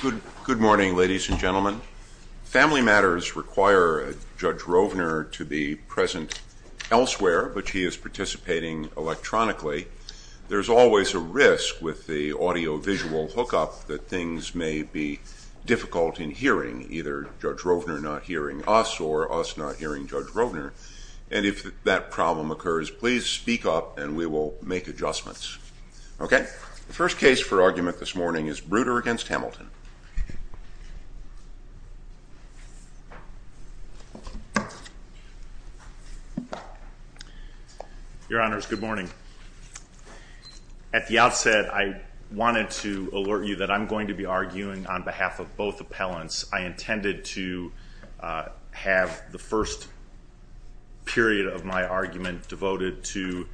Good morning, ladies and gentlemen. Family matters require Judge Rovner to be present elsewhere, but he is participating electronically. There's always a risk with the audio-visual hookup that things may be difficult in hearing, either Judge Rovner not hearing us or us not hearing Judge Rovner. And if that problem occurs, please speak up and we will make adjustments. OK, the first case for argument this morning is Breuder v. Hamilton. Your Honors, good morning. At the outset, I wanted to alert you that I'm going to be arguing on behalf of both appellants. I intended to have the first period of my argument devoted to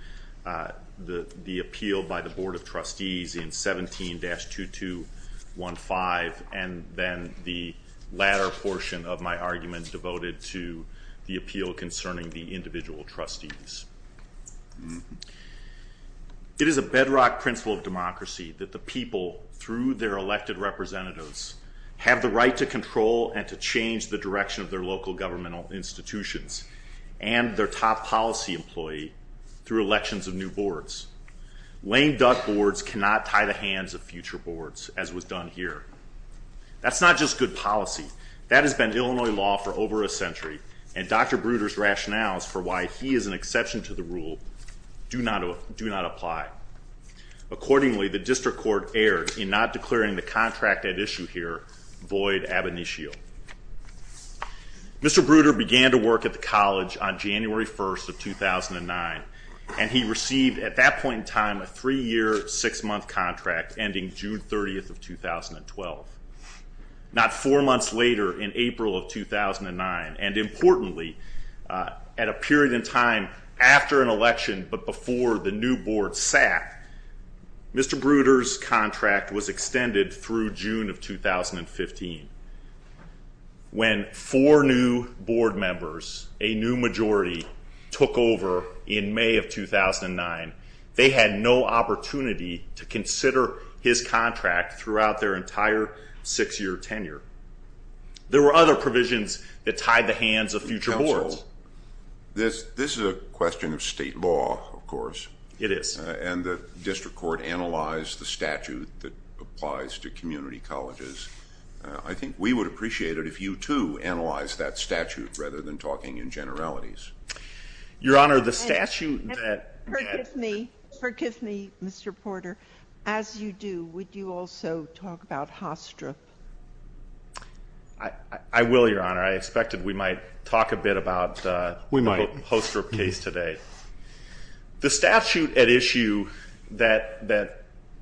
the appeal by the Board of Trustees in 17-2215, and then the latter portion of my argument devoted to the appeal concerning the individual trustees. It is a bedrock principle of democracy that the people, through their elected representatives, have the right to control and to change the direction of their local governmental institutions and their top policy employee through elections of new boards. Laying duck boards cannot tie the hands of future boards, as was done here. That's not just good policy. That has been Illinois law for over a century, and Dr. Breuder's rationales for why he is an exception to the rule do not apply. Accordingly, the district court erred in not declaring the contract at issue here void ab initio. Mr. Breuder began to work at the college on January 1st of 2009, and he received, at that point in time, a three-year, six-month contract ending June 30th of 2012. Not four months later, in April of 2009, and importantly, at a period in time after an election but before the new board sat, Mr. Breuder's contract was extended through June of 2015. When four new board members, a new majority, took over in May of 2009, they had no opportunity to consider his contract throughout their entire six-year tenure. There were other provisions that tied the hands of future boards. This is a question of state law, of course. It is. And the district court analyzed the statute that applies to community colleges. I think we would appreciate it if you, too, analyzed that statute rather than talking in generalities. Your Honor, the statute that- Forgive me. Forgive me, Mr. Porter. As you do, would you also talk about Hostrop? I will, Your Honor. I expected we might talk a bit about my Hostrop case today. The statute at issue that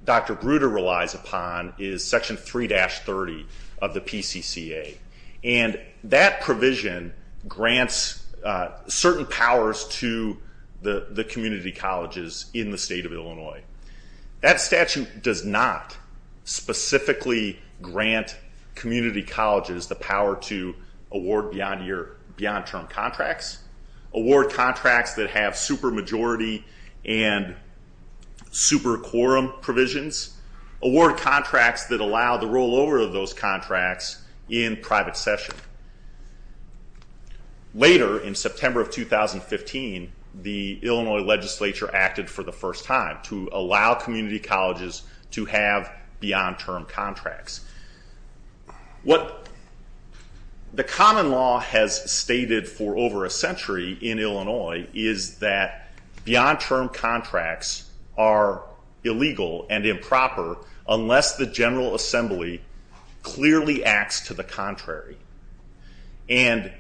Dr. Breuder relies upon is section 3-30 of the PCCA. And that provision grants certain powers to the community colleges in the state of Illinois. That statute does not specifically grant community colleges the power to award beyond-term contracts, award contracts that have supermajority and super quorum provisions, award contracts that allow the rollover of those contracts in private session. Later, in September of 2015, the Illinois legislature acted for the first time to allow community colleges to have beyond-term contracts. What the common law has stated for over a century in Illinois is that beyond-term contracts are illegal and improper unless the General Assembly clearly acts to the contrary. And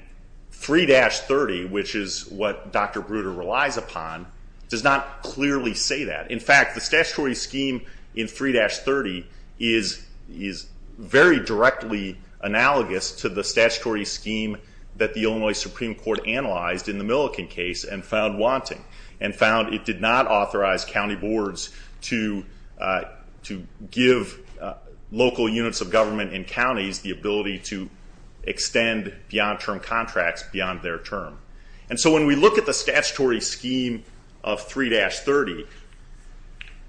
3-30, which is what Dr. Breuder relies upon, does not clearly say that. In fact, the statutory scheme in 3-30 is very directly analogous to the statutory scheme that the Illinois Supreme Court analyzed in the Milliken case and found wanting. And found it did not authorize county boards to give local units of government in counties the ability to extend beyond-term contracts beyond their term. And so when we look at the statutory scheme of 3-30,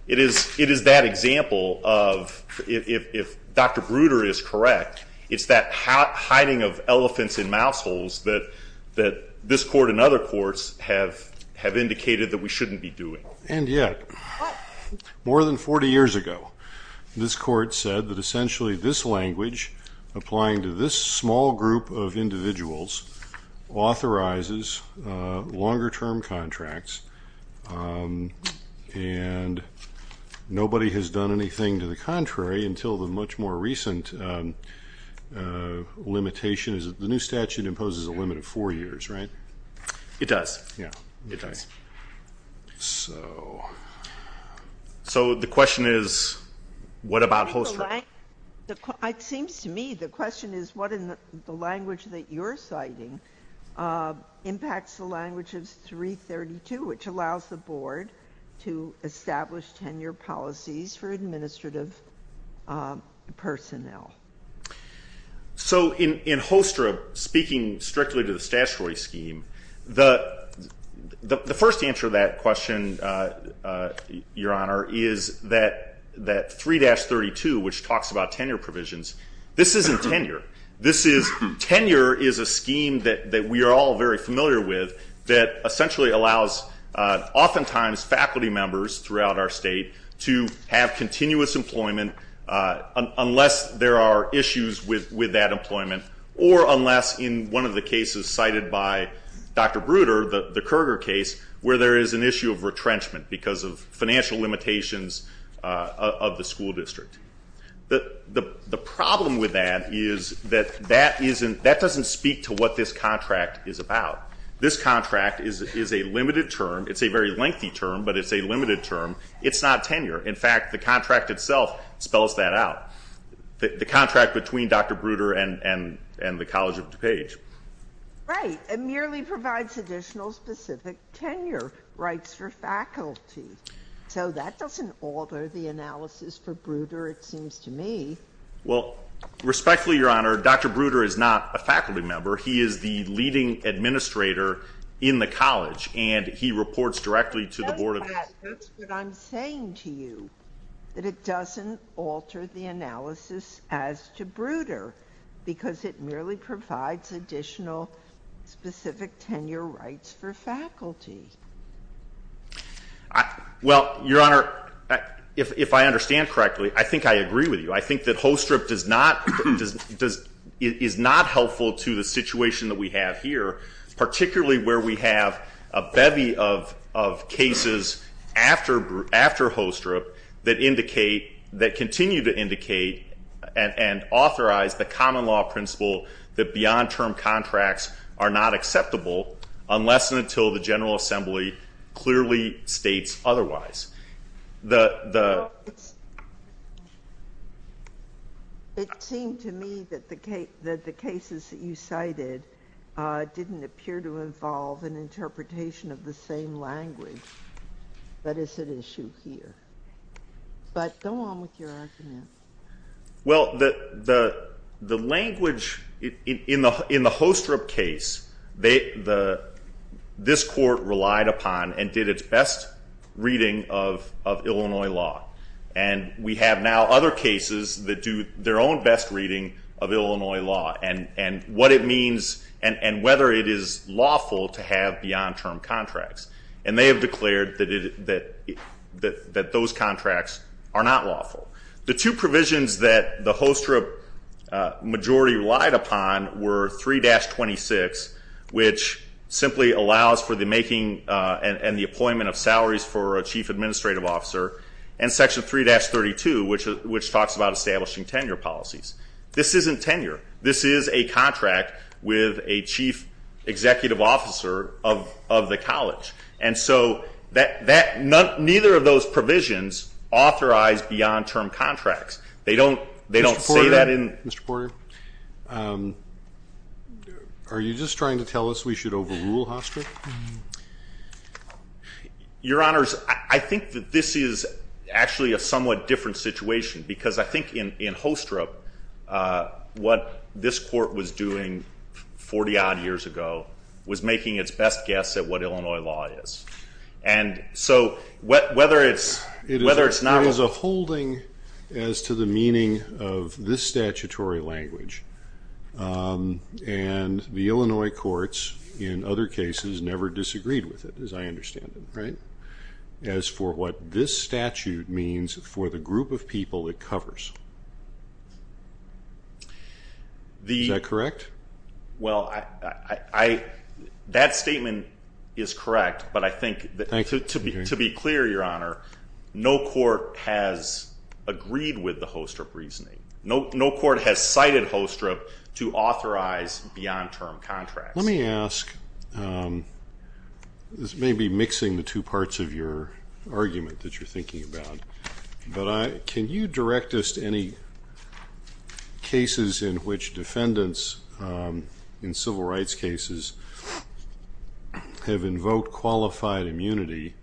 it is that example of, if Dr. Breuder is correct, it's that hiding of elephants in mouse holes that this court and other courts have indicated that we shouldn't be doing. And yet, more than 40 years ago, this court said that essentially this language, applying to this small group of individuals, authorizes longer-term contracts. And nobody has done anything to the contrary until the much more recent limitation is that the new statute imposes a limit of four years, right? It does. Yeah, it does. So the question is, what about HOSTRA? Seems to me the question is, what in the language that you're citing impacts the language of 3-32, which allows the board to establish tenure policies for administrative personnel? So in HOSTRA, speaking strictly to the statutory scheme, the first answer to that question, Your Honor, is that 3-32, which talks about tenure provisions, this isn't tenure. Tenure is a scheme that we are all very familiar with that essentially allows, oftentimes, faculty members throughout our state to have continuous employment unless there are issues with that employment or unless, in one of the cases cited by Dr. Bruder, the Kerger case, where there is an issue of retrenchment because of financial limitations of the school district. The problem with that is that that doesn't speak to what this contract is about. This contract is a limited term. It's a very lengthy term, but it's a limited term. It's not tenure. In fact, the contract itself spells that out. The contract between Dr. Bruder and the College of DuPage. Right. It merely provides additional specific tenure rights for faculty. So that doesn't alter the analysis for Bruder, it seems to me. Well, respectfully, Your Honor, Dr. Bruder is not a faculty member. He is the leading administrator in the college, and he reports directly to the board of directors. That's what I'm saying to you, that it doesn't alter the analysis as to Bruder, because it merely provides additional specific tenure rights for faculty. Well, Your Honor, if I understand correctly, I think I agree with you. I think that HoStrip is not helpful to the situation that we have here, particularly where we have a bevy of cases after HoStrip that continue to indicate and authorize the common law principle that beyond term contracts are not acceptable unless and until the General Assembly clearly states otherwise. It seemed to me that the cases that you cited didn't appear to involve an interpretation of the same language. But it's an issue here. But go on with your argument. Well, the language in the HoStrip case, this court relied upon and did its best reading of Illinois law. And we have now other cases that do their own best reading of Illinois law. And what it means and whether it is lawful to have beyond term contracts. And they have declared that those contracts are not lawful. The two provisions that the HoStrip majority relied upon were 3-26, which simply allows for the making and the appointment of salaries for a chief administrative officer, and section 3-32, which talks about establishing tenure policies. This isn't tenure. This is a contract with a chief executive officer of the college. And so neither of those provisions authorize beyond term contracts. They don't say that in- Mr. Porter, are you just trying to tell us we should overrule HoStrip? Your Honors, I think that this is actually a somewhat different situation. Because I think in HoStrip, what this court was doing 40-odd years ago was making its best guess at what Illinois law is. And so whether it's not- There is a holding as to the meaning of this statutory language. And the Illinois courts, in other cases, never disagreed with it, as I understand it. As for what this statute means for the group of people it covers, is that correct? Well, that statement is correct. But I think, to be clear, Your Honor, no court has agreed with the HoStrip reasoning. No court has cited HoStrip to authorize beyond term contracts. Let me ask, this may be mixing the two parts of your argument that you're thinking about. But can you direct us to any cases in which defendants in civil rights cases have invoked qualified immunity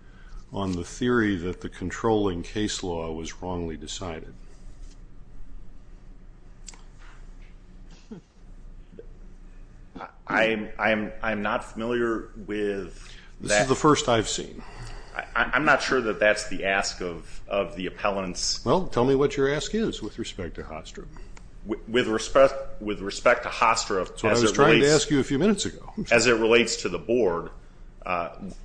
on the theory that the controlling case law was wrongly decided? I am not familiar with that. This is the first I've seen. I'm not sure that that's the ask of the appellants. Well, tell me what your ask is with respect to HoStrip. With respect to HoStrip, as it relates to the board,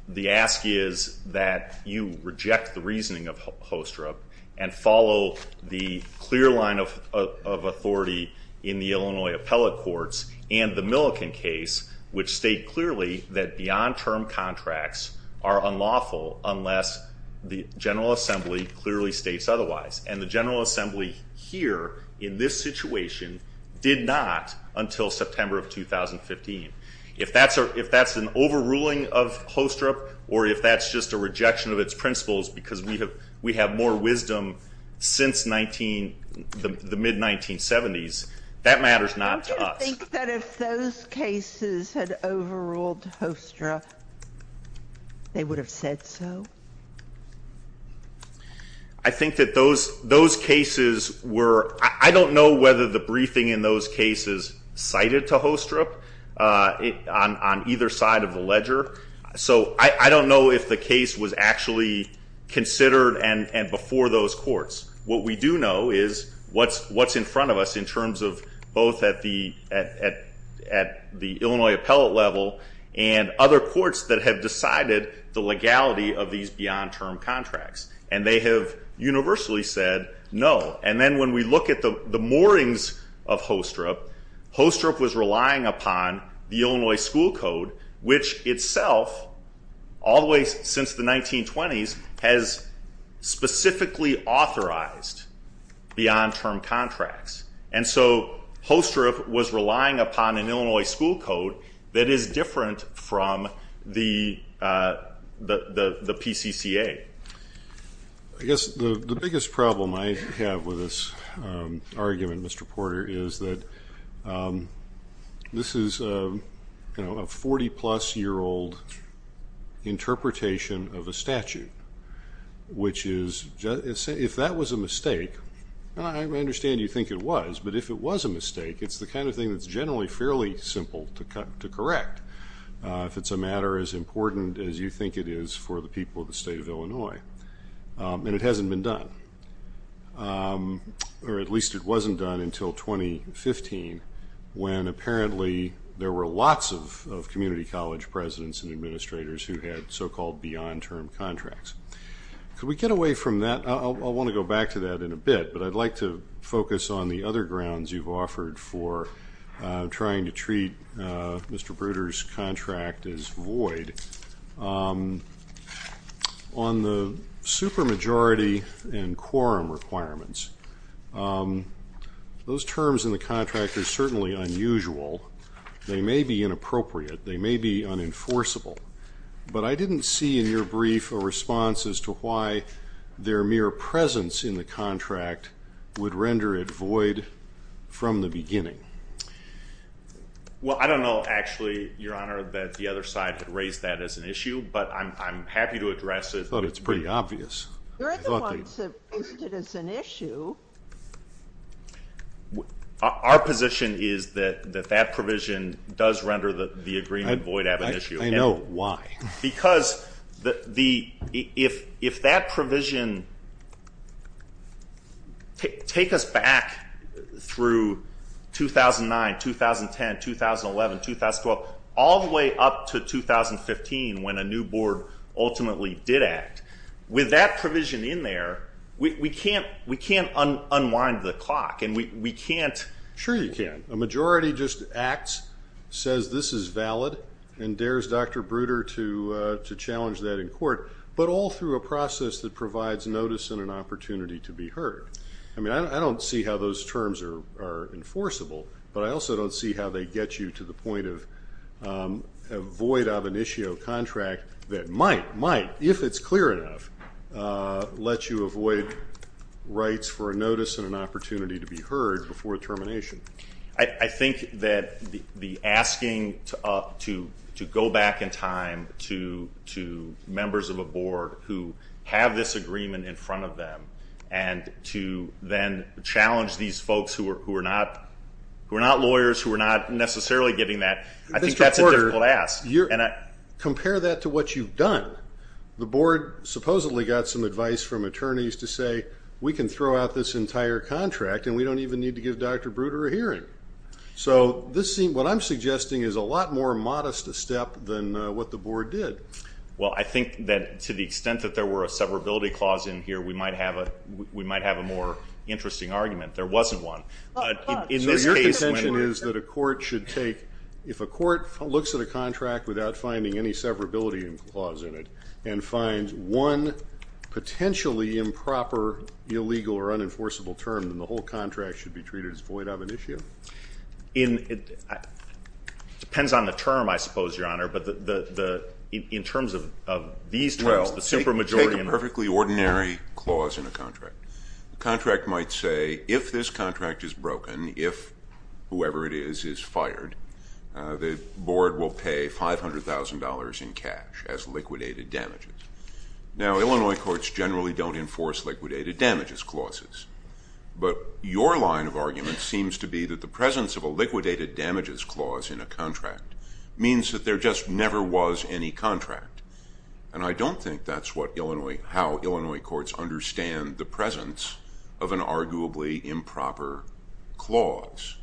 the ask is that you reject the reasoning of HoStrip and follow the clear line of authority in the Illinois appellate courts and the Milliken case, which state clearly that beyond term contracts are unlawful unless the General Assembly clearly states otherwise. And the General Assembly here, in this situation, did not until September of 2015. If that's an overruling of HoStrip, or if that's just a rejection of its principles because we have more wisdom since the mid-1970s, that matters not to us. Do you think that if those cases had overruled HoStrip, they would have said so? I think that those cases were, I don't know whether the briefing in those cases cited to HoStrip on either side of the ledger. So I don't know if the case was actually considered and before those courts. What we do know is what's in front of us in terms of both at the Illinois appellate level and other courts that have decided the legality of these beyond term contracts. And they have universally said no. And then when we look at the moorings of HoStrip, HoStrip was relying upon the Illinois school code, which itself, all the way since the 1920s, has specifically authorized beyond term contracts. And so HoStrip was relying upon an Illinois school code that is different from the PCCA. I guess the biggest problem I have with this argument, Mr. Porter, is that this is a 40-plus-year-old interpretation of a statute, which is, if that was a mistake, I understand you think it was. But if it was a mistake, it's the kind of thing that's generally fairly simple to correct, if it's a matter as important as you think it is for the people of the state of Illinois. And it hasn't been done. Or at least it wasn't done until 2015, when apparently there were lots of community college presidents and administrators who had so-called beyond term contracts. Could we get away from that? I'll want to go back to that in a bit. But I'd like to focus on the other grounds you've offered for trying to treat Mr. Bruder's contract as void. On the supermajority and quorum requirements, those terms in the contract are certainly unusual. They may be inappropriate. They may be unenforceable. But I didn't see in your brief a response as to why their mere presence in the contract would render it void from the beginning. Well, I don't know, actually, Your Honor, that the other side had raised that as an issue. But I'm happy to address it. But it's pretty obvious. There are the ones that raised it as an issue. Our position is that that provision does render the agreement void as an issue. I know. Why? Because if that provision take us back through 2009, 2010, 2011, 2012, all the way up to 2015, when a new board ultimately did act, with that provision in there, we can't unwind the clock. And we can't. Sure you can. A majority just acts, says this is valid, and dares Dr. Bruder to challenge that in court, but all through a process that provides notice and an opportunity to be heard. I mean, I don't see how those terms are enforceable. But I also don't see how they get you to the point of a void of an issue of contract that might, might, if it's clear enough, let you avoid rights for a notice and an opportunity to be heard before termination. I think that the asking to go back in time to members of a board who have this agreement in front of them and to then challenge these folks who are not lawyers, who are not necessarily giving that, I think that's a difficult ask. Compare that to what you've done. The board supposedly got some advice from attorneys to say, we can throw out this entire contract, and we don't even need to give Dr. Bruder a hearing. So what I'm suggesting is a lot more modest a step than what the board did. Well, I think that to the extent that there were a severability clause in here, we might have a more interesting argument. There wasn't one. In this case, when it is that a court should take, if a court looks at a contract without finding any severability clause in it and finds one potentially improper, illegal, or unenforceable term then the whole contract should be treated as void of an issue. It depends on the term, I suppose, Your Honor. But in terms of these terms, the supermajority and the- Well, take a perfectly ordinary clause in a contract. The contract might say, if this contract is broken, if whoever it is is fired, the board will pay $500,000 in cash as liquidated damages. Now, Illinois courts generally don't enforce liquidated damages clauses. But your line of argument seems to be that the presence of a liquidated damages clause in a contract means that there just never was any contract. And I don't think that's how Illinois courts understand the presence of an arguably improper clause.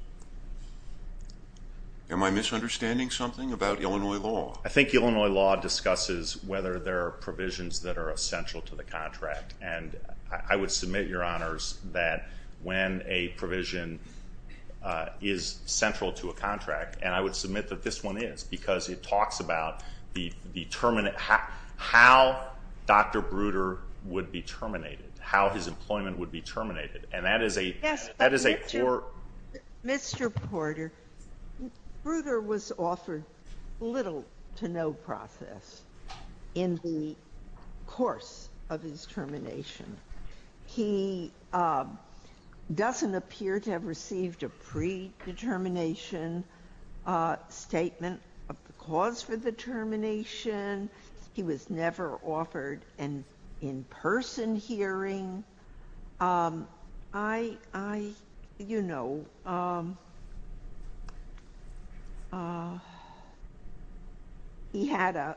Am I misunderstanding something about Illinois law? I think Illinois law discusses whether there are provisions that are essential to the contract. And I would submit, Your Honors, that when a provision is central to a contract, and I would submit that this one is, because it talks about how Dr. Bruder would be terminated, how his employment would be terminated. And that is a poor- Mr. Porter, Bruder was offered little to no process in the course of his termination. He doesn't appear to have received a pre-determination statement of the cause for the termination. He was never offered an in-person hearing. I, you know, he had an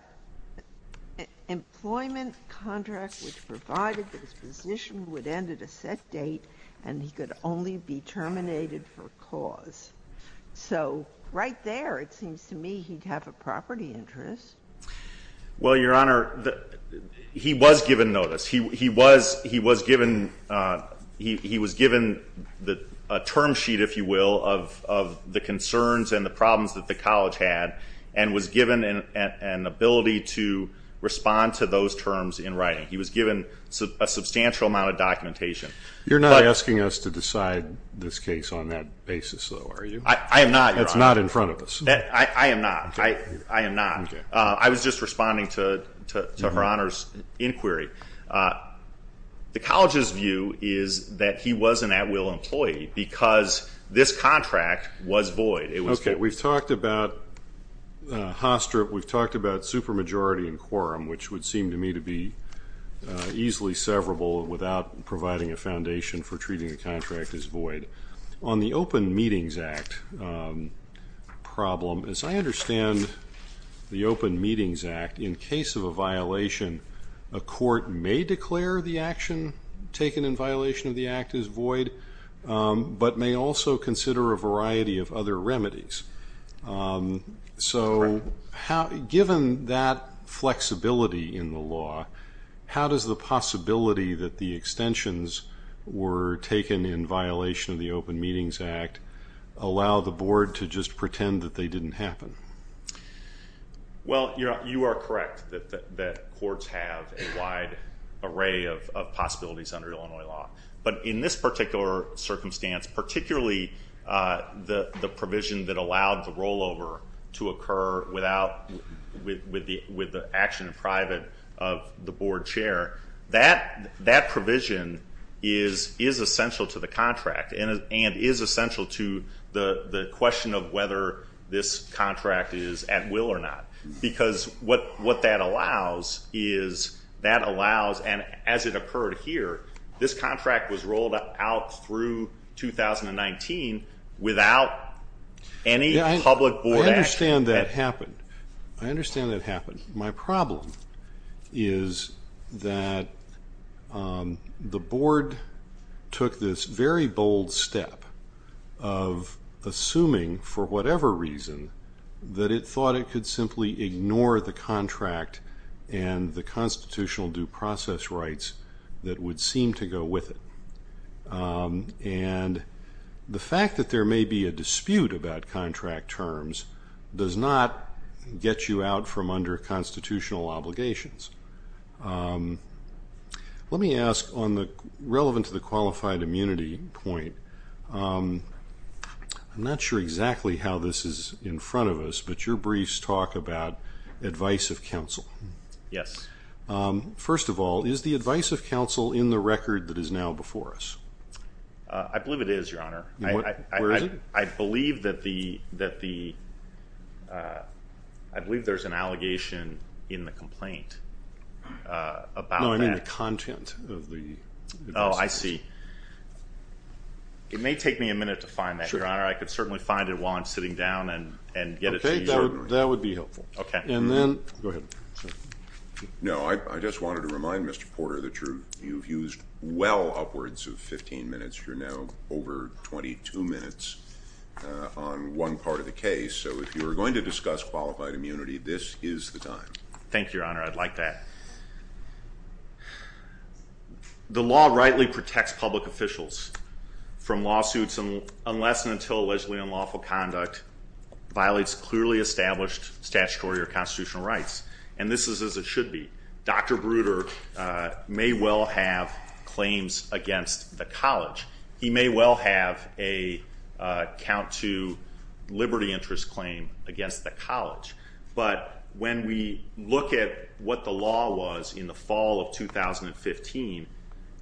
employment contract which provided that his position would end at a set date, and he could only be terminated for cause. So right there, it seems to me, he'd have a property interest. Well, Your Honor, he was given notice. He was given a term sheet, if you will, of the concerns and the problems that the college had, and was given an ability to respond to those terms in writing. He was given a substantial amount of documentation. You're not asking us to decide this case on that basis, though, are you? I am not, Your Honor. It's not in front of us. I am not. I am not. I was just responding to Her Honor's inquiry. The college's view is that he was an at-will employee because this contract was void. We've talked about Haastrup. We've talked about supermajority and quorum, which would seem to me to be easily severable without providing a foundation for treating the contract as void. On the Open Meetings Act problem, as I understand the Open Meetings Act, in case of a violation, a court may declare the action taken in violation of the act as void, but may also consider a variety of other remedies. So given that flexibility in the law, how does the possibility that the extensions were taken in violation of the Open Meetings Act allow the board to just pretend that they didn't happen? Well, you are correct that courts have a wide array of possibilities under Illinois law. But in this particular circumstance, particularly the provision that allowed the rollover to occur with the action in private of the board chair, that provision is essential to the contract and is essential to the question of whether this contract is at will or not. Because what that allows is that allows, and as it occurred here, this contract was rolled out through 2019 without any public board action. I understand that happened. I understand that happened. My problem is that the board took this very bold step of assuming, for whatever reason, that it thought it could simply ignore the contract and the constitutional due process rights that would seem to go with it. And the fact that there may be a dispute about contract terms does not get you out from under constitutional obligations. Let me ask on the relevant to the qualified immunity point, I'm not sure exactly how this is in front of us, but your briefs talk about advice of counsel. Yes. First of all, is the advice of counsel in the record I believe it is, Your Honor. Where is it? I believe that the, I believe there's an allegation in the complaint about that. No, I mean the content of the advice. Oh, I see. It may take me a minute to find that, Your Honor. I could certainly find it while I'm sitting down and get it to you. That would be helpful. And then, go ahead. No, I just wanted to remind Mr. Porter that you've used well upwards of 15 minutes. You're now over 22 minutes on one part of the case. So if you're going to discuss qualified immunity, this is the time. Thank you, Your Honor. I'd like that. The law rightly protects public officials from lawsuits unless and until allegedly unlawful conduct violates clearly established statutory or constitutional rights. And this is as it should be. Dr. Bruder may well have claims against the college. He may well have a count to liberty interest claim against the college. But when we look at what the law was in the fall of 2015,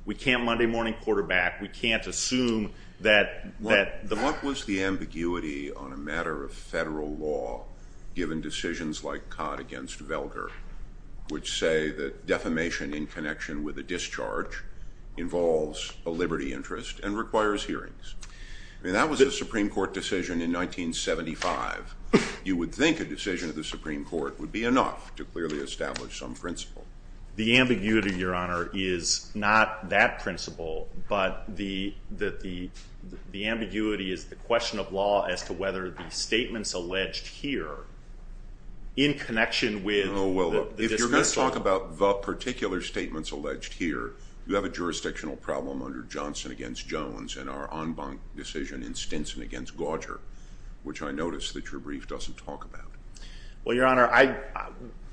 we can't Monday morning quarterback. We can't assume that the- What was the ambiguity on a matter of federal law given decisions like Codd against Velder, which say that defamation in connection with a discharge involves a liberty interest and requires hearings. I mean, that was a Supreme Court decision in 1975. You would think a decision of the Supreme Court would be enough to clearly establish some principle. The ambiguity, Your Honor, is not that principle. But the ambiguity is the question of law as to whether the statements alleged here in connection with the dismissal- Oh, well, if you're going to talk about the particular statements alleged here, you have a jurisdictional problem under Johnson against Jones and our en banc decision in Stinson against Gauger, which I noticed that your brief doesn't talk about. Well, Your Honor,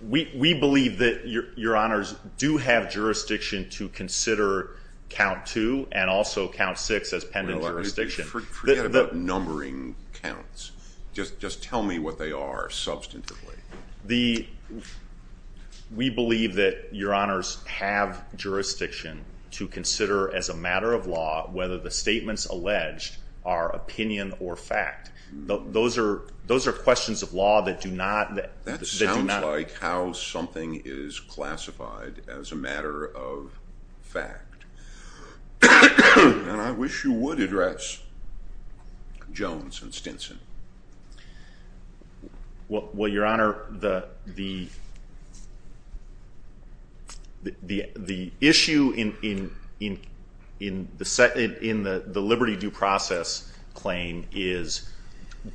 we believe that Your Honors do have jurisdiction to consider count two and also count six as pending jurisdiction. Forget about numbering counts. Just tell me what they are substantively. We believe that Your Honors have jurisdiction to consider as a matter of law whether the statements alleged are opinion or fact. Those are questions of law that do not- That sounds like how something is classified as a matter of fact. And I wish you would address Jones and Stinson. Well, Your Honor, the issue in the liberty due process claim is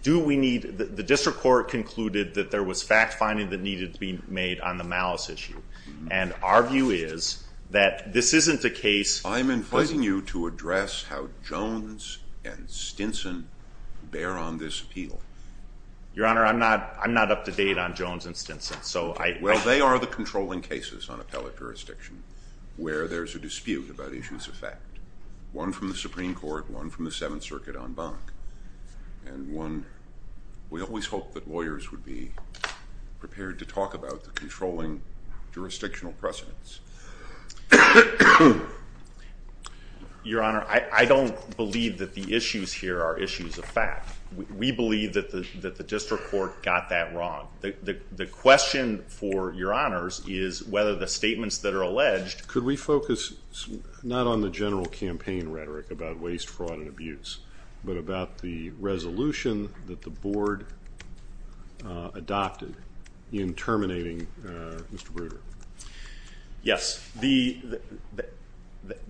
do we need- the district court concluded that there was fact finding that needed to be made on the malice issue. And our view is that this isn't a case- I'm inviting you to address how Jones and Stinson bear on this appeal. Your Honor, I'm not up to date on Jones and Stinson. So I- Well, they are the controlling cases on appellate jurisdiction where there's a dispute about issues of fact. One from the Supreme Court, one from the Seventh Circuit en banc. And we always hope that lawyers would be prepared to talk about the controlling jurisdictional precedents. Your Honor, I don't believe that the issues here are issues of fact. We believe that the district court got that wrong. The question for Your Honors is whether the statements that are alleged- Could we focus not on the general campaign rhetoric about waste, fraud, and abuse, but about the resolution that the board adopted in terminating Mr. Bruder? Yes.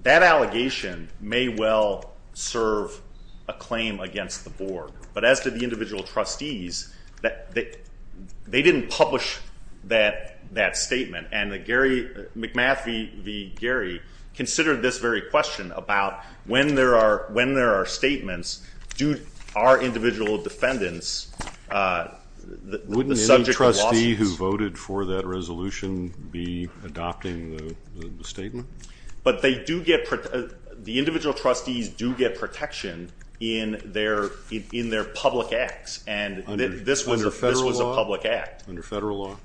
That allegation may well serve a claim against the board. But as did the individual trustees, they didn't publish that statement. And the Gary- McMath v. Gary considered this very question about when there are statements, do our individual defendants- Wouldn't any trustee who voted for that resolution be adopting the statement? But they do get- the individual trustees do get protection in their public acts. And this was a public act. Under federal law?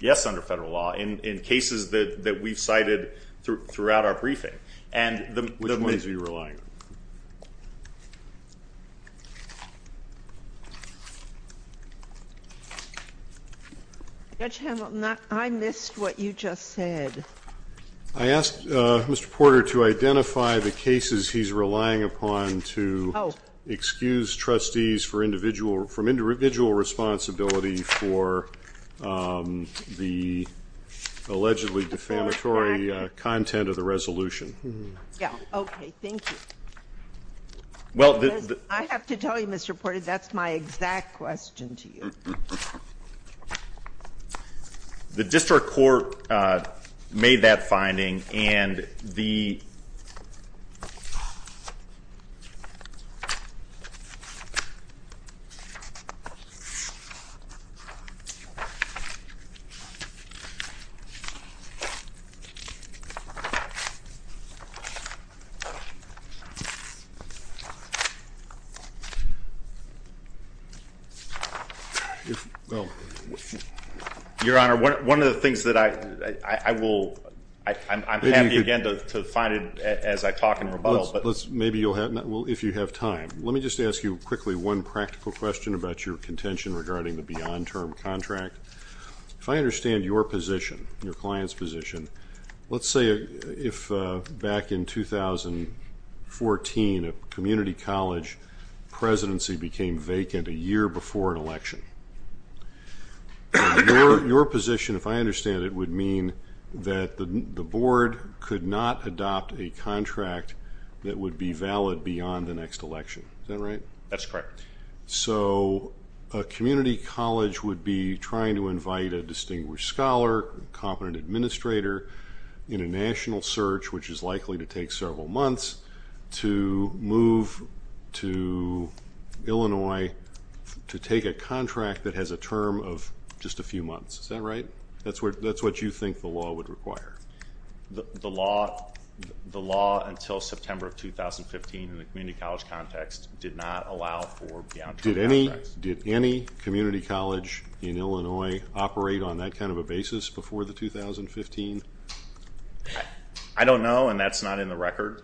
Yes, under federal law, in cases that we've cited throughout our briefing. And the- Which ones are you relying on? Judge Hamilton, I missed what you just said. I asked Mr. Porter to identify the cases he's relying upon to excuse trustees from individual responsibility for the allegedly defamatory content of the resolution. Yeah, OK, thank you. Well, the- I have to tell you, Mr. Porter, that's my exact question to you. The district court made that finding. And the- Well- Your Honor, one of the things that I will- I'm happy, again, to find it as I talk and rebuttal, but- Maybe you'll have- well, if you have time. Let me just ask you quickly one practical question about your contention regarding the beyond term contract. If I understand your position, your client's position, let's say if back in 2014 a community college presidency became vacant a year before an election, your position, if I understand it, would mean that the board could not adopt a contract that would be valid beyond the next election. Is that right? That's correct. So a community college would be trying to invite a distinguished scholar, competent administrator, in a national search, which is likely to take several months, to move to Illinois to take a contract that has a term of just a few months. Is that right? That's what you think the law would require. The law until September of 2015 in the community college context did not allow for beyond term contracts. Did any community college in Illinois operate on that kind of a basis before the 2015? I don't know, and that's not in the record.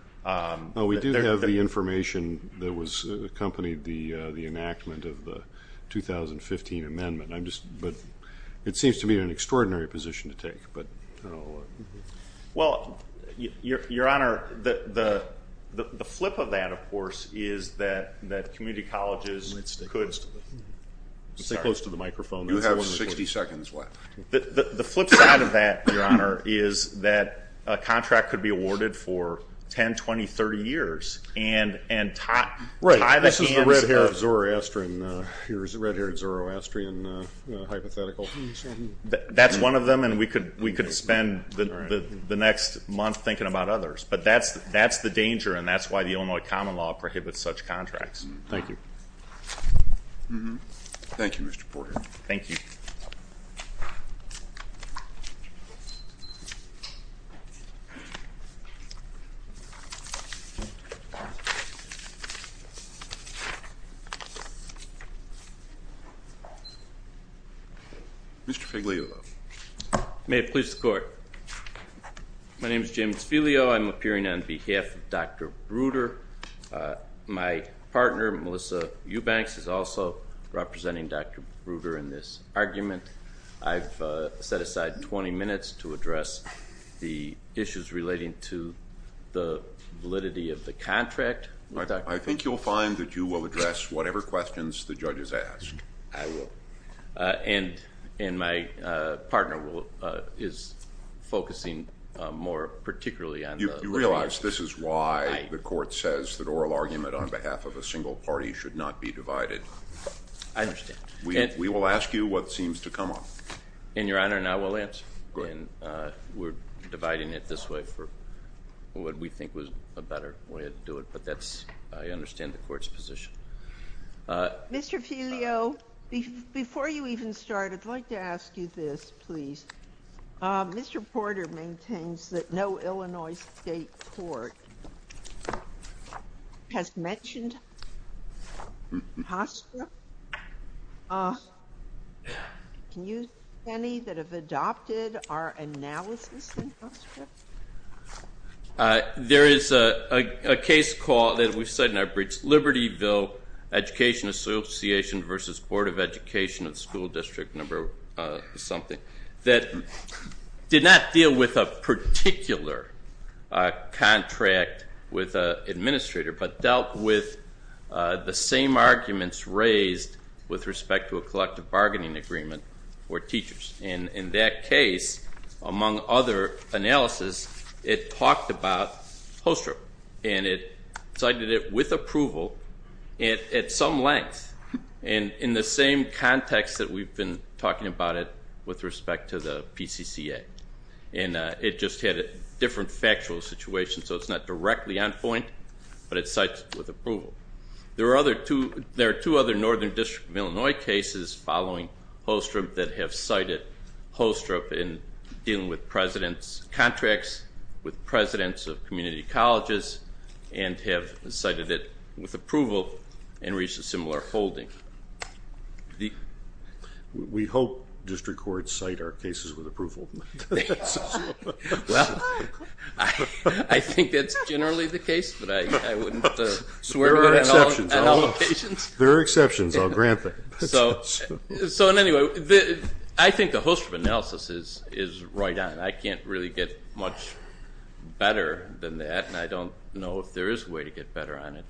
We do have the information that was accompanied the enactment of the 2015 amendment. It seems to me an extraordinary position to take. Well, your honor, the flip of that, of course, is that community colleges could stay close to the microphone. You have 60 seconds left. The flip side of that, your honor, is that a contract could be awarded for 10, 20, 30 years, and tie the ends up. Right, this is the red-haired Zoroastrian hypothetical. That's one of them, and we could spend the next month thinking about others. But that's the danger, and that's why the Illinois common law prohibits such contracts. Thank you. Thank you, Mr. Porter. Thank you. Mr. Figliolo. May it please the court. My name's James Figliolo. I'm appearing on behalf of Dr. Bruder. My partner, Melissa Eubanks, is also representing Dr. Bruder in this argument. I've set aside 20 minutes to address the issues relating to the validity of the contract. I think you'll find that you will address whatever questions the judge has asked. I will, and my partner is focusing more particularly on the rights. You realize this is why the court says that oral argument on behalf of a single party should not be divided. I understand. We will ask you what seems to come up. In your honor, and I will answer. We're dividing it this way for what we think was a better way to do it, but I understand the court's position. Mr. Figliolo, before you even start, I'd like to ask you this, please. Mr. Porter maintains that no Illinois state court has mentioned Hofstra. Can you name any that have adopted our analysis in Hofstra? There is a case call that we've said in our briefs, Libertyville Education Association versus Board of Education at school district number something, that did not deal with a particular contract with an administrator, but dealt with the same arguments raised with respect to a collective bargaining agreement for teachers. And in that case, among other analysis, it talked about Hofstra. And it cited it with approval at some length. And in the same context that we've been talking about it with respect to the PCCA. And it just had a different factual situation, so it's not directly on point, but it cites it with approval. There are two other Northern District of Illinois cases following Hofstra that have cited Hofstra in dealing with president's contracts with presidents of community colleges, and have cited it with approval, and reached a similar holding. We hope district courts cite our cases with approval. Well, I think that's generally the case, but I wouldn't swear at all locations. There are exceptions. I'll grant that. So in any way, I think the Hofstra analysis is right on. I can't really get much better than that, and I don't know if there is a way to get better on it.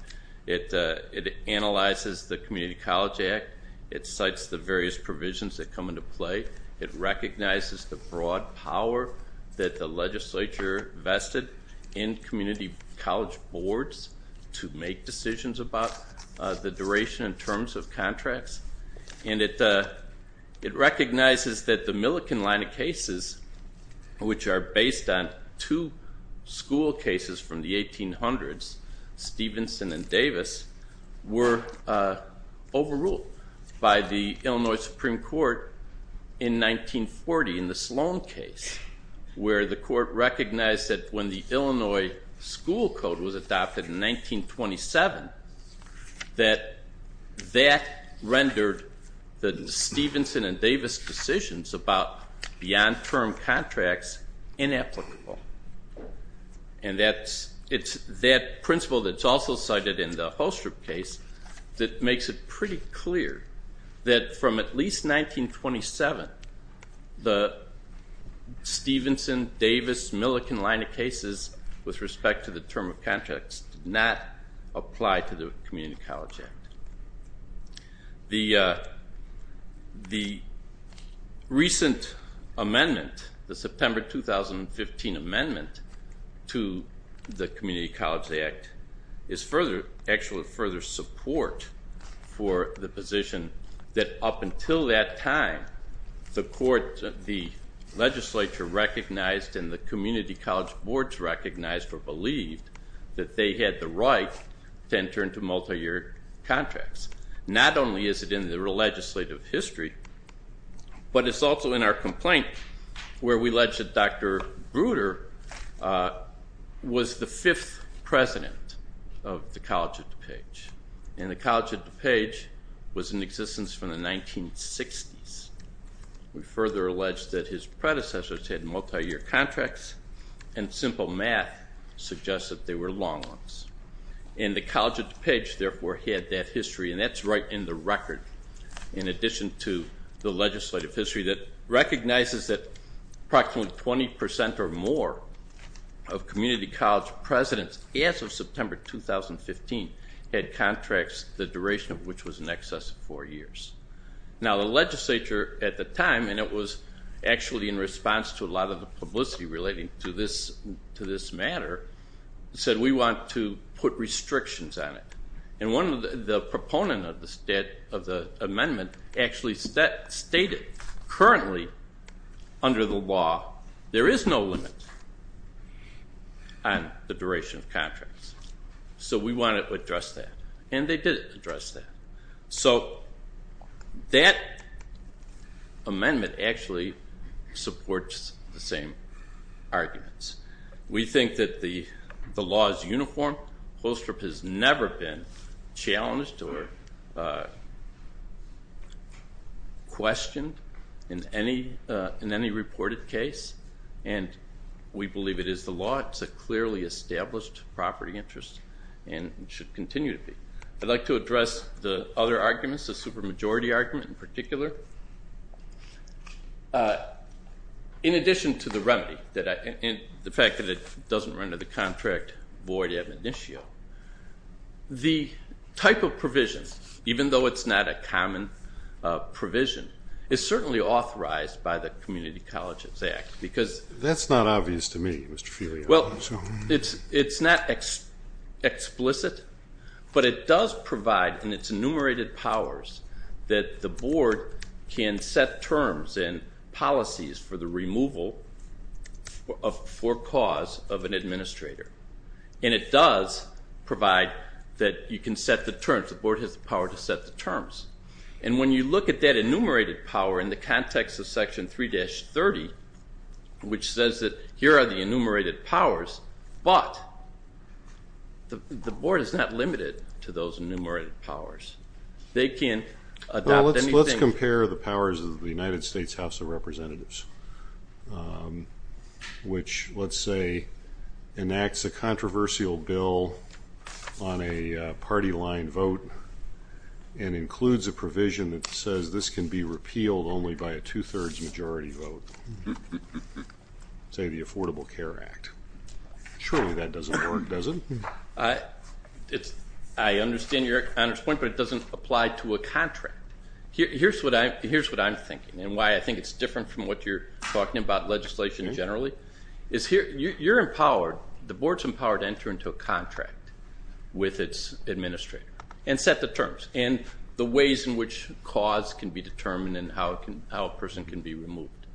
It analyzes the Community College Act. It cites the various provisions that come into play. It recognizes the broad power that the legislature vested in community college boards to make decisions about the duration in terms of contracts. And it recognizes that the Milliken line of cases, which are based on two school cases from the 1800s, Stevenson and Davis, were overruled by the Illinois Supreme Court in 1940 in the Sloan case, where the court recognized that when the Illinois school code was adopted in 1927, that that rendered the Stevenson and Davis decisions about the on-term contracts inapplicable. And it's that principle that's also cited in the Hofstra case that makes it pretty clear that from at least 1927, the Stevenson, Davis, Milliken line of cases with respect to the term of contracts did not apply to the Community College Act. The recent amendment, the September 2015 amendment to the Community College Act, is actually further support for the position that up until that time, the legislature recognized and the community college boards recognized or believed that they had the right to enter into multi-year contracts. Not only is it in the legislative history, but it's also in our complaint where we allege that Dr. Bruder was the fifth president of the College of DuPage. And the College of DuPage was in existence from the 1960s. We further allege that his predecessors had multi-year contracts, and simple math suggests that they were long ones. And the College of DuPage, therefore, had that history. And that's right in the record in addition to the legislative history that recognizes that approximately 20% or more of community college presidents as of September 2015 had contracts, the duration of which was in excess of four years. Now, the legislature at the time, and it was actually in response to a lot of the publicity relating to this matter, said, we want to put restrictions on it. And the proponent of the amendment actually stated, currently, under the law, there is no limit on the duration of contracts. So we want to address that. And they did address that. So that amendment actually supports the same arguments. We think that the law is uniform. Holstrup has never been challenged or questioned in any reported case. And we believe it is the law. It's a clearly established property interest and should continue to be. I'd like to address the other arguments, the supermajority argument, in particular. In addition to the remedy, the fact that it doesn't render the contract void adminitio, the type of provisions, even though it's not a common provision, is certainly authorized by the Community Colleges Act. Because that's not obvious to me, Mr. Feely. Well, it's not explicit. But it does provide, in its enumerated powers, that the board can set terms and policies for the removal for cause of an administrator. And it does provide that you can set the terms. The board has the power to set the terms. And when you look at that enumerated power in the context of section 3-30, which says that here are the enumerated powers, but the board is not limited to those enumerated powers. They can adopt anything. Let's compare the powers of the United States House of Representatives, which, let's say, enacts a controversial bill on a party line vote and includes a provision that says this can be repealed only by a 2 thirds majority vote. Say the Affordable Care Act. Surely that doesn't work, does it? I understand your point, but it doesn't apply to a contract. Here's what I'm thinking, and why I think it's different from what you're talking about legislation generally, is you're empowered, the board's empowered to enter into a contract with its administrator and set the terms and the ways in which cause can be determined and how a person can be removed.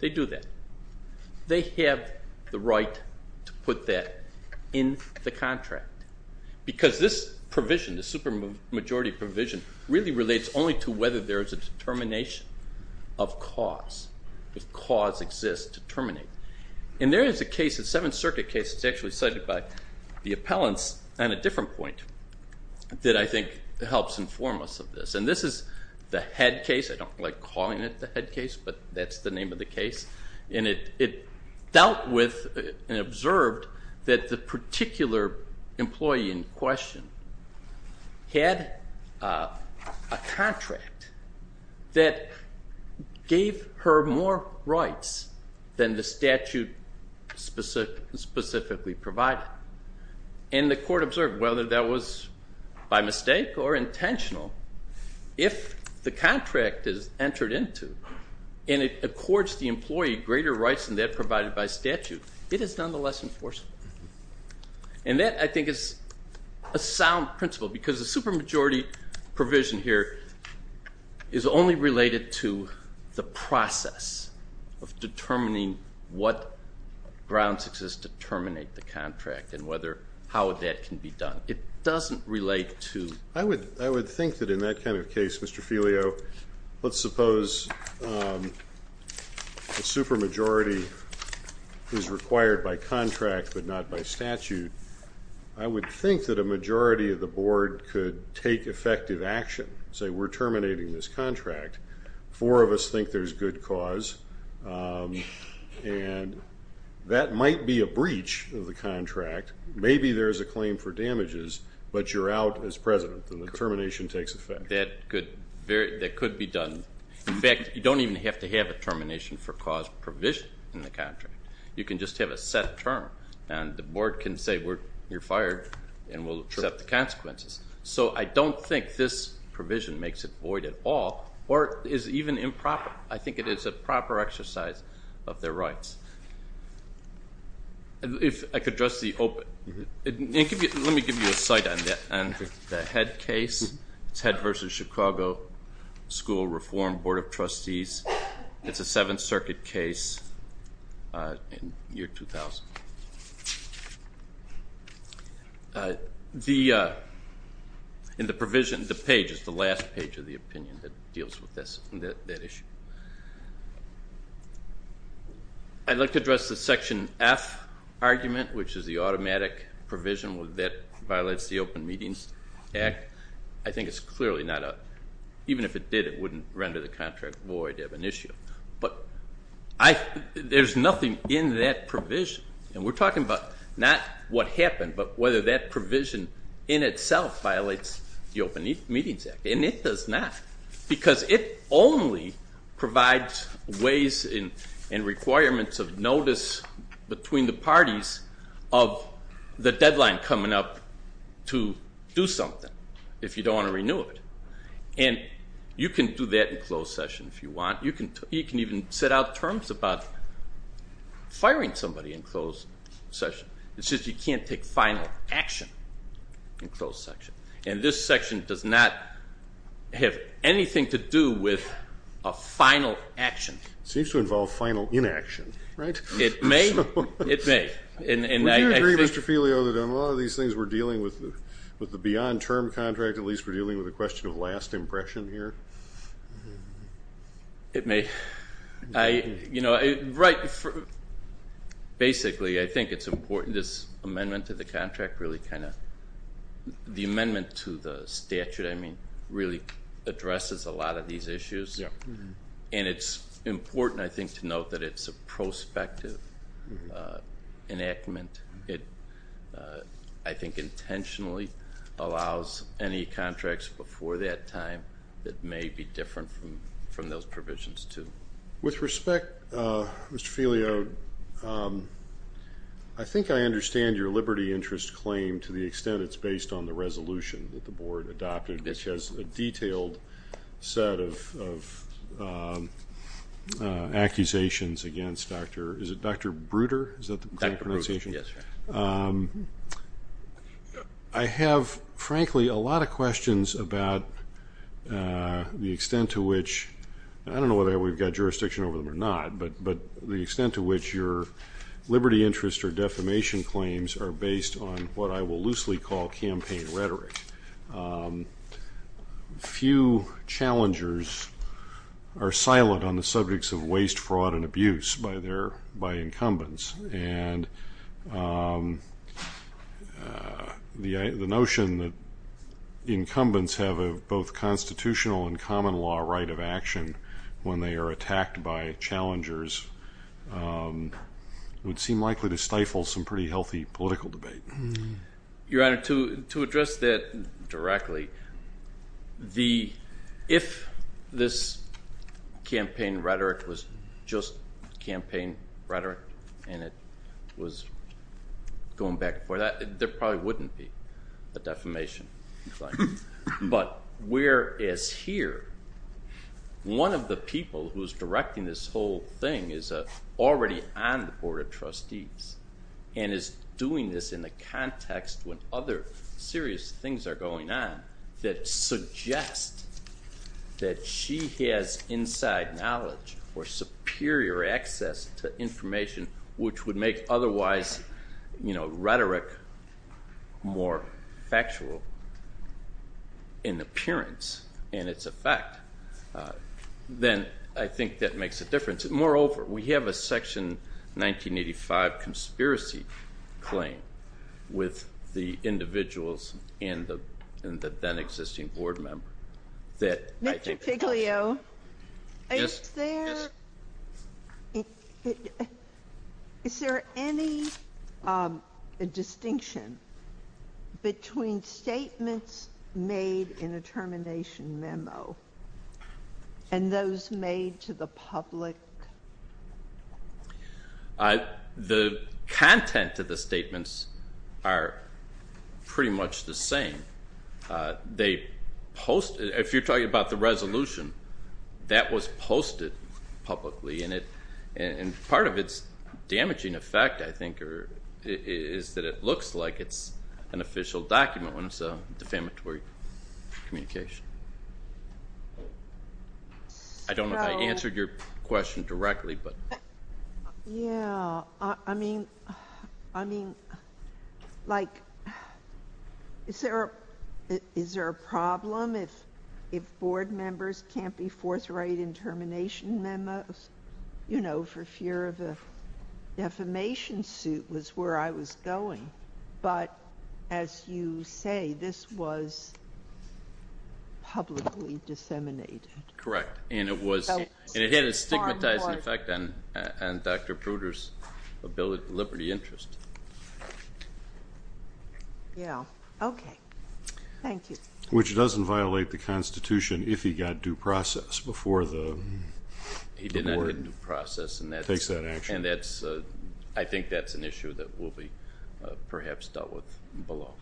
They do that. They have the right to put that in the contract because this provision, the supermajority provision, really relates only to whether there is a determination of cause, if cause exists to terminate. And there is a case, a Seventh Circuit case, that's actually cited by the appellants on a different point that I think helps inform us of this. And this is the head case. I don't like calling it the head case, but that's the name of the case. And it dealt with and observed that the particular employee in question had a contract that gave her more rights than the statute specifically provided. And the court observed, whether that was by mistake or intentional, if the contract is entered into and it accords the employee greater rights than that provided by statute, it is nonetheless enforceable. And that, I think, is a sound principle because the supermajority provision here is only related to the process of determining what grounds exist to terminate the contract and how that can be done. It doesn't relate to. I would think that in that kind of case, Mr. Filio, let's suppose the supermajority is required by contract but not by statute. I would think that a majority of the board could take effective action, say we're terminating this contract. Four of us think there's good cause. And that might be a breach of the contract. Maybe there is a claim for damages, but you're out as president, and the termination takes effect. That could be done. In fact, you don't even have to have a termination for cause provision in the contract. You can just have a set term. And the board can say, you're fired, and we'll accept the consequences. So I don't think this provision makes it void at all or is even improper. I think it is a proper exercise of their rights. If I could address the open. Let me give you a site on the Head case. It's Head versus Chicago School Reform Board of Trustees. It's a Seventh Circuit case in the year 2000. In the provision, the page is the last page of the opinion that deals with that issue. I'd like to address the section F argument, which is the automatic provision that violates the Open Meetings Act. I think it's clearly not a, even if it did, it wouldn't render the contract void of an issue. But there's nothing in that provision. And we're talking about not what happened, but whether that provision in itself violates the Open Meetings Act. And it does not. Because it only provides ways and requirements of notice between the parties of the deadline coming up to do something if you don't want to renew it. And you can do that in closed session if you want. You can even set out terms about firing somebody in closed session. It's just you can't take final action in closed section. And this section does not have anything to do with a final action. Seems to involve final inaction, right? It may. It may. Would you agree, Mr. Filio, that on a lot of these things we're dealing with the beyond term contract, at least we're dealing with a question of last impression here? It may. Basically, I think it's important this amendment to the contract really kind of, the amendment to the statute, I mean, really addresses a lot of these issues. And it's important, I think, to note that it's a prospective enactment. It, I think, intentionally allows any contracts before that time that may be different from those provisions to. With respect, Mr. Filio, I think I understand your liberty interest claim to the extent it's based on the resolution that the board adopted, which has a detailed set of accusations against Dr. Is it Dr. Bruder? Is that the correct pronunciation? Yes. I have, frankly, a lot of questions about the extent to which, I don't know whether we've got jurisdiction over them or not, but the extent to which your liberty interest or defamation claims are based on what I will loosely call campaign rhetoric. Few challengers are silent on the subjects of waste, fraud, and abuse by incumbents. And the notion that incumbents have a both constitutional and common law right of action when they are attacked by challengers would seem likely to stifle some pretty healthy political debate. Your Honor, to address that directly, if this campaign rhetoric was just campaign rhetoric and it was going back and forth, there probably wouldn't be a defamation claim. But whereas here, one of the people who is directing this whole thing is already on the Board of Trustees and is doing this in the context when other serious things are going on that suggest that she has inside knowledge or superior access to information which would make otherwise rhetoric more factual in appearance and its effect, then I think that makes a difference. Moreover, we have a section 1985 conspiracy claim with the individuals and the then existing board member that I think the question is. Mr. Piglio, is there any distinction between statements made in a termination memo and those made to the public? The content of the statements are pretty much the same. They post it. If you're talking about the resolution, that was posted publicly. And part of its damaging effect, I think, is that it looks like it's an official document when it's a defamatory communication. I don't know if I answered your question directly, but. Yeah, I mean, is there a problem if board members can't be forthright in termination memos? You know, for fear of a defamation suit was where I was going. But as you say, this was publicly disseminated. Correct. And it had a stigmatizing effect on Dr. Pruder's liberty interest. Yeah, OK. Thank you. Which doesn't violate the Constitution if he got due process before the board. He did not get due process. And that takes that action. And I think that's an issue that will be, perhaps, dealt with below.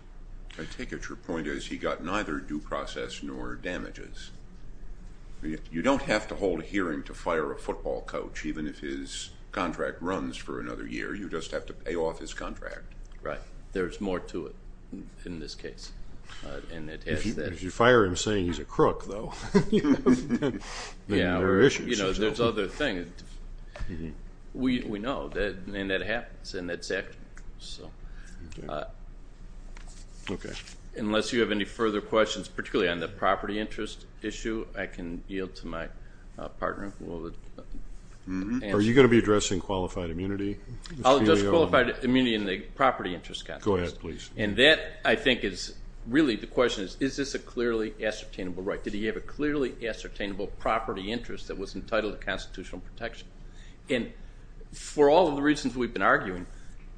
I take it your point is he got neither due process nor damages. You don't have to hold a hearing to fire a football coach, even if his contract runs for another year. You just have to pay off his contract. Right. There's more to it in this case. And it has that. If you fire him saying he's a crook, though, then there are issues. You know, there's other things. Mm-hmm. We know. And that happens. And that's accurate. So unless you have any further questions, particularly on the property interest issue, I can yield to my partner. Are you going to be addressing qualified immunity? I'll address qualified immunity in the property interest context. Go ahead, please. And that, I think, is really the question is, is this a clearly ascertainable right? Did he have a clearly ascertainable property interest that was entitled to constitutional protection? And for all of the reasons we've been arguing,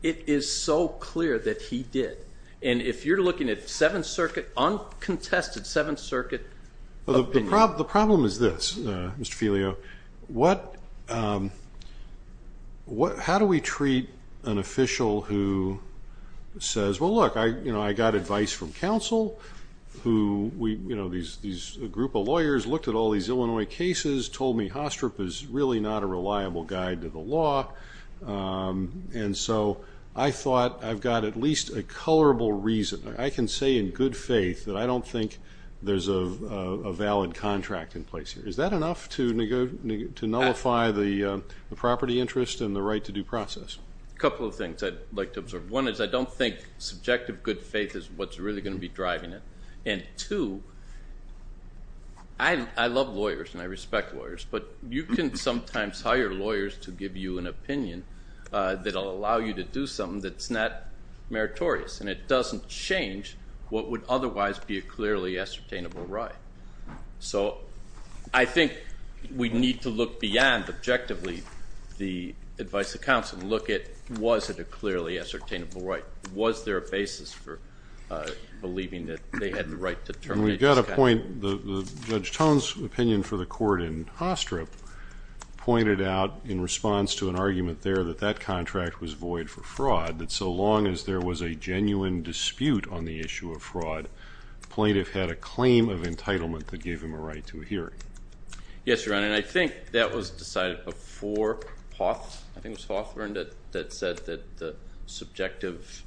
it is so clear that he did. And if you're looking at Seventh Circuit, uncontested Seventh Circuit opinion. The problem is this, Mr. Filio, how do we treat an official who says, well, look, I got advice from counsel, who these group of lawyers looked at all these Illinois cases, told me Hostrop is really not a reliable guide to the law. And so I thought I've got at least a colorable reason. I can say in good faith that I don't think there's a valid contract in place here. Is that enough to nullify the property interest and the right to due process? A couple of things I'd like to observe. One is I don't think subjective good faith is what's really going to be driving it. And two, I love lawyers and I respect lawyers, but you can sometimes hire lawyers to give you an opinion that will allow you to do something that's not meritorious. And it doesn't change what would otherwise be a clearly ascertainable right. So I think we need to look beyond objectively the advice of counsel and look at, was it a clearly ascertainable right? Was there a basis for believing that they had the right to terminate this contract? And we've got a point, Judge Tone's opinion for the court in Hostrop pointed out in response to an argument there that that contract was void for fraud, that so long as there was a genuine dispute on the issue of fraud, plaintiff had a claim of entitlement that gave him a right to a hearing. Yes, Your Honor, and I think that was decided before Hoth, I think it was Hoth that said that the subjective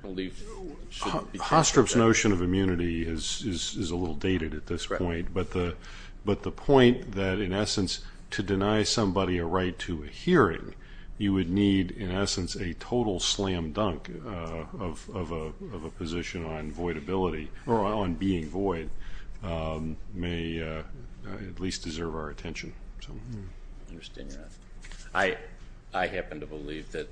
belief should be taken into account. Hostrop's notion of immunity is a little dated at this point. But the point that, in essence, to deny somebody a right to a hearing, you would need, in essence, a total slam dunk of a position on voidability, on being void, may at least deserve our attention. I understand, Your Honor. I happen to believe that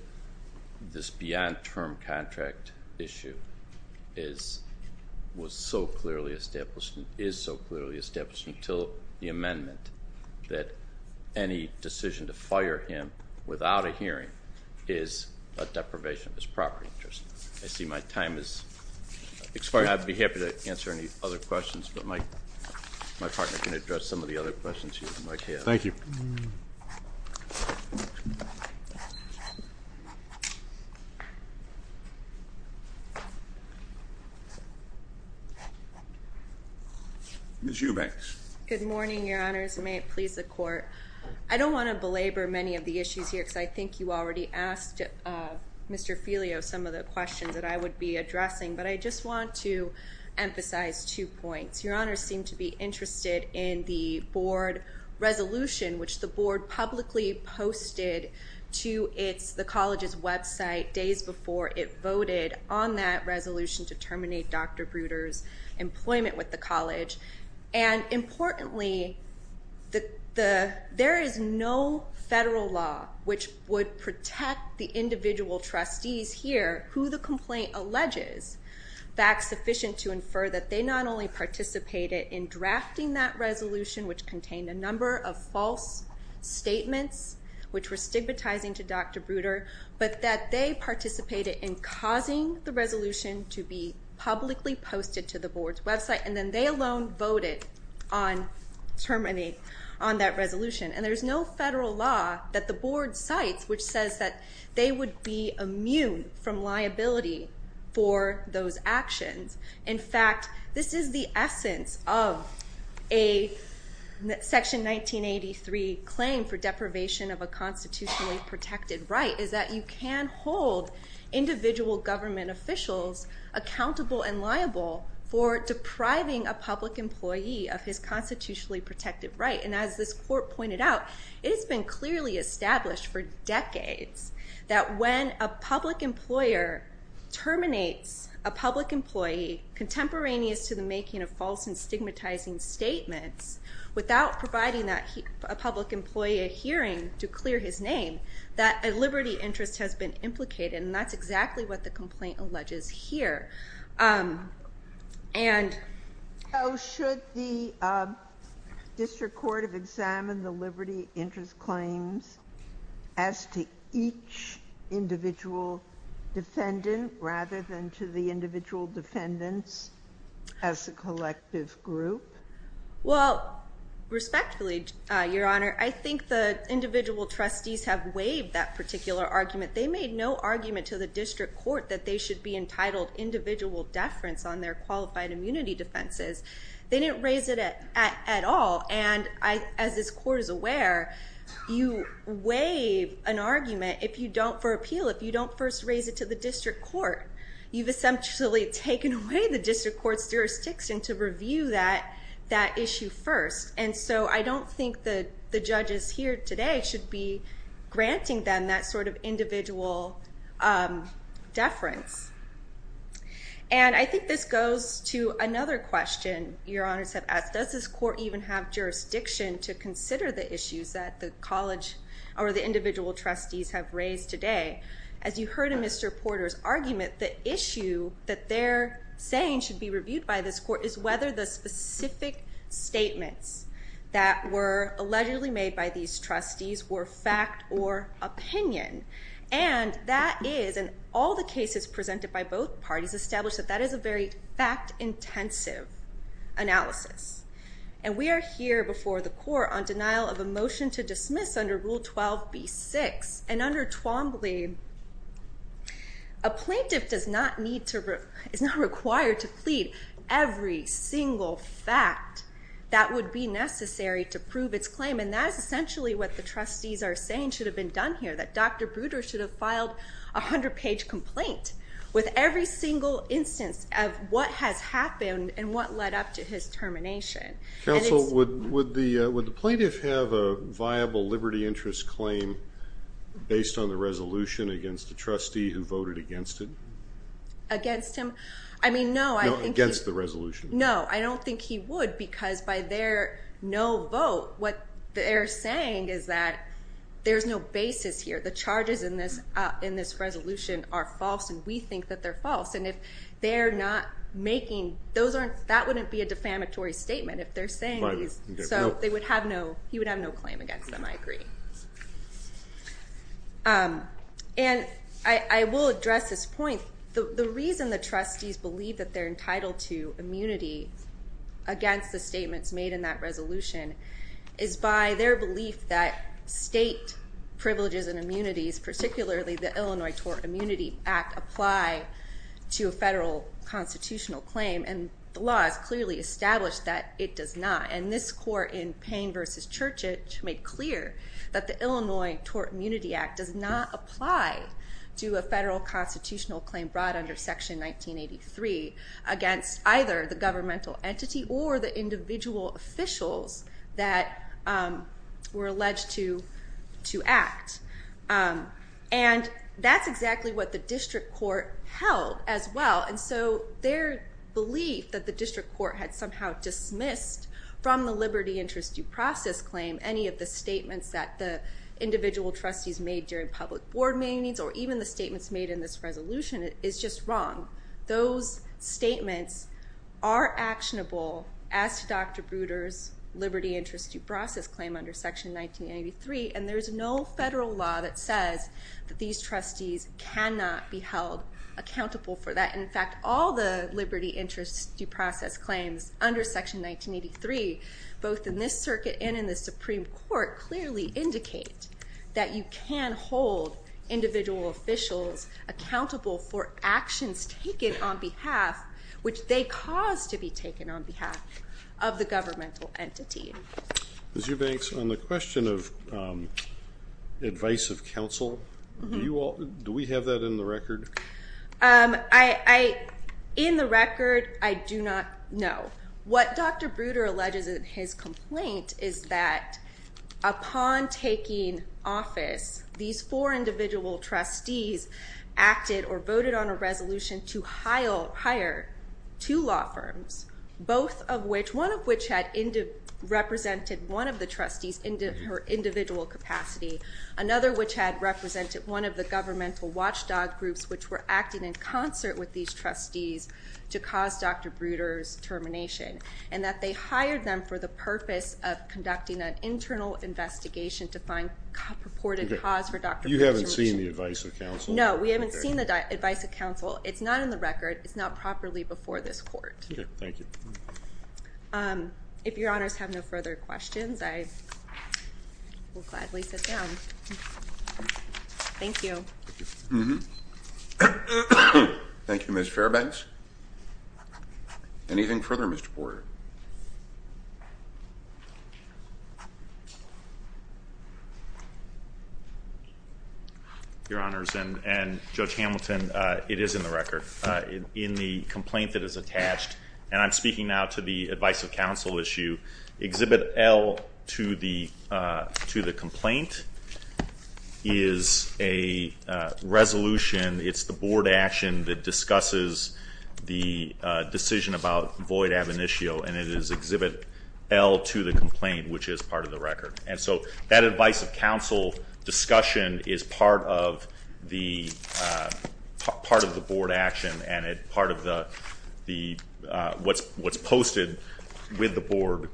this beyond term contract issue is so clearly established until the amendment that any decision to fire him without a hearing is a deprivation of his property interest. I see my time has expired. I'd be happy to answer any other questions, but my partner can address some of the other questions you might have. Thank you. Ms. Eubanks. Good morning, Your Honors, and may it please the court. I don't want to belabor many of the issues here because I think you already asked Mr. Filio some of the questions that I would be addressing, but I just want to emphasize two points. Your Honor seemed to be interested in the board resolution, which the board publicly posted to the college's website days before it voted on that resolution to terminate Dr. Bruder's employment with the college. And importantly, there is no federal law which would protect the individual trustees here who the complaint alleges, fact sufficient to infer that they not only participated in drafting that resolution, which contained a number of false statements which were stigmatizing to Dr. Bruder, but that they participated in causing the resolution to be publicly posted to the board's website, and then they alone voted on terminating on that resolution. And there's no federal law that the board cites which says that they would be immune from liability for those actions. In fact, this is the essence of a Section 1983 claim for deprivation of a constitutionally protected right, is that you can hold individual government officials accountable and liable for depriving a public employee of his constitutionally protected right. And as this court pointed out, it has been clearly established for decades that when a public employer terminates a public employee contemporaneous to the making of false and stigmatizing statements, without providing a public employee a hearing to clear his name, that a liberty interest has been implicated. And that's exactly what the complaint alleges here. And should the district court have examined the liberty interest claims as to each individual defendant, rather than to the individual defendants as a collective group? Well, respectfully, Your Honor, I think the individual trustees have waived that particular argument. They made no argument to the district court that they should be entitled individual deference on their qualified immunity defenses. They didn't raise it at all. And as this court is aware, you waive an argument for appeal if you don't first raise it to the district court. You've essentially taken away the district court's jurisdiction to review that issue first. And so I don't think that the judges here today should be granting them that sort of individual deference. And I think this goes to another question Your Honor said, does this court even have jurisdiction to consider the issues that the college or the individual trustees have raised today? As you heard in Mr. Porter's argument, the issue that they're saying should be reviewed by this court is whether the specific statements that were allegedly made by these trustees were fact or opinion. And that is, in all the cases presented by both parties, established that that is a very fact-intensive analysis. And we are here before the court on denial of a motion to dismiss under Rule 12b-6. And under Twombly, a plaintiff is not required to plead every single fact that would be necessary to prove its claim. And that is essentially what the trustees are saying should have been done here, that Dr. Bruder should have filed a 100-page complaint with every single instance of what has happened and what led up to his termination. Counsel, would the plaintiff have a viable liberty interest claim based on the resolution against the trustee who voted against it? Against him? I mean, no. Against the resolution. No, I don't think he would. Because by their no vote, what they're saying is that there's no basis here. The charges in this resolution are false. And we think that they're false. And if they're not making those aren't, that wouldn't be a defamatory statement if they're saying these. So they would have no, he would have no claim against them, I agree. And I will address this point. The reason the trustees believe that they're entitled to immunity against the statements made in that resolution is by their belief that state privileges and immunities, particularly the Illinois Tort Immunity Act, apply to a federal constitutional claim. And the law has clearly established that it does not. And this court in Payne versus Churchage made clear that the Illinois Tort Immunity Act does not apply to a federal constitutional claim brought under Section 1983 against either the governmental entity or the individual officials that were alleged to act. And that's exactly what the district court held as well. And so their belief that the district court had somehow dismissed from the liberty interest due process claim any of the statements that the individual trustees made during public board meetings, or even the statements made in this resolution, is just wrong. Those statements are actionable as to Dr. Bruder's liberty interest due process claim under Section 1983. And there is no federal law that says that these trustees cannot be held accountable for that. In fact, all the liberty interest due process claims under Section 1983, both in this circuit and in the Supreme Court, clearly indicate that you can hold individual officials accountable for actions taken on behalf, which they cause to be taken on behalf of the governmental entity. Ms. Eubanks, on the question of advice of counsel, do we have that in the record? In the record, I do not know. What Dr. Bruder alleges in his complaint is that upon taking office, these four individual trustees acted or voted on a resolution to hire two law firms, both of which, one of which had represented one of the trustees in her individual capacity, another which had represented one of the governmental watchdog groups, which were acting in concert with these trustees to cause Dr. Bruder's termination, and that they hired them for the purpose of conducting an internal investigation to find purported cause for Dr. Bruder's termination. You haven't seen the advice of counsel? No, we haven't seen the advice of counsel. It's not in the record. It's not properly before this court. OK, thank you. If your honors have no further questions, I will gladly sit down. Thank you. Thank you, Ms. Fairbanks. Anything further, Mr. Porter? Your honors, and Judge Hamilton, it is in the record. In the complaint that is attached, and I'm speaking now to the advice of counsel issue, Exhibit L to the complaint is a resolution. It's the board action that discusses the decision and it is Exhibit L to the complaint, which is part of the record. And so that advice of counsel discussion is part of the board action, and part of what's posted with the board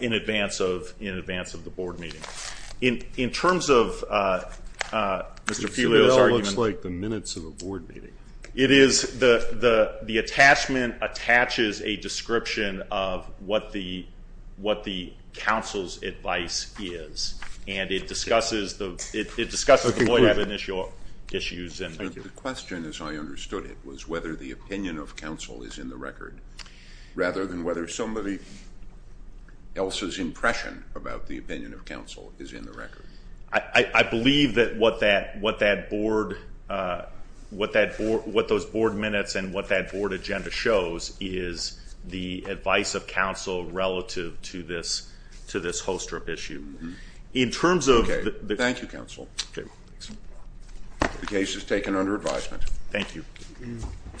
in advance of the board meeting. In terms of Mr. Felio's argument. Exhibit L looks like the minutes of a board meeting. It is the attachment attaches a description of what the counsel's advice is. And it discusses the point of initial issues. The question, as I understood it, was whether the opinion of counsel is in the record, rather than whether somebody else's impression about the opinion of counsel is in the record. I believe that what those board minutes and what that board agenda shows is the advice of counsel relative to this holster of issue. In terms of the- Thank you, counsel. The case is taken under advisement. Thank you.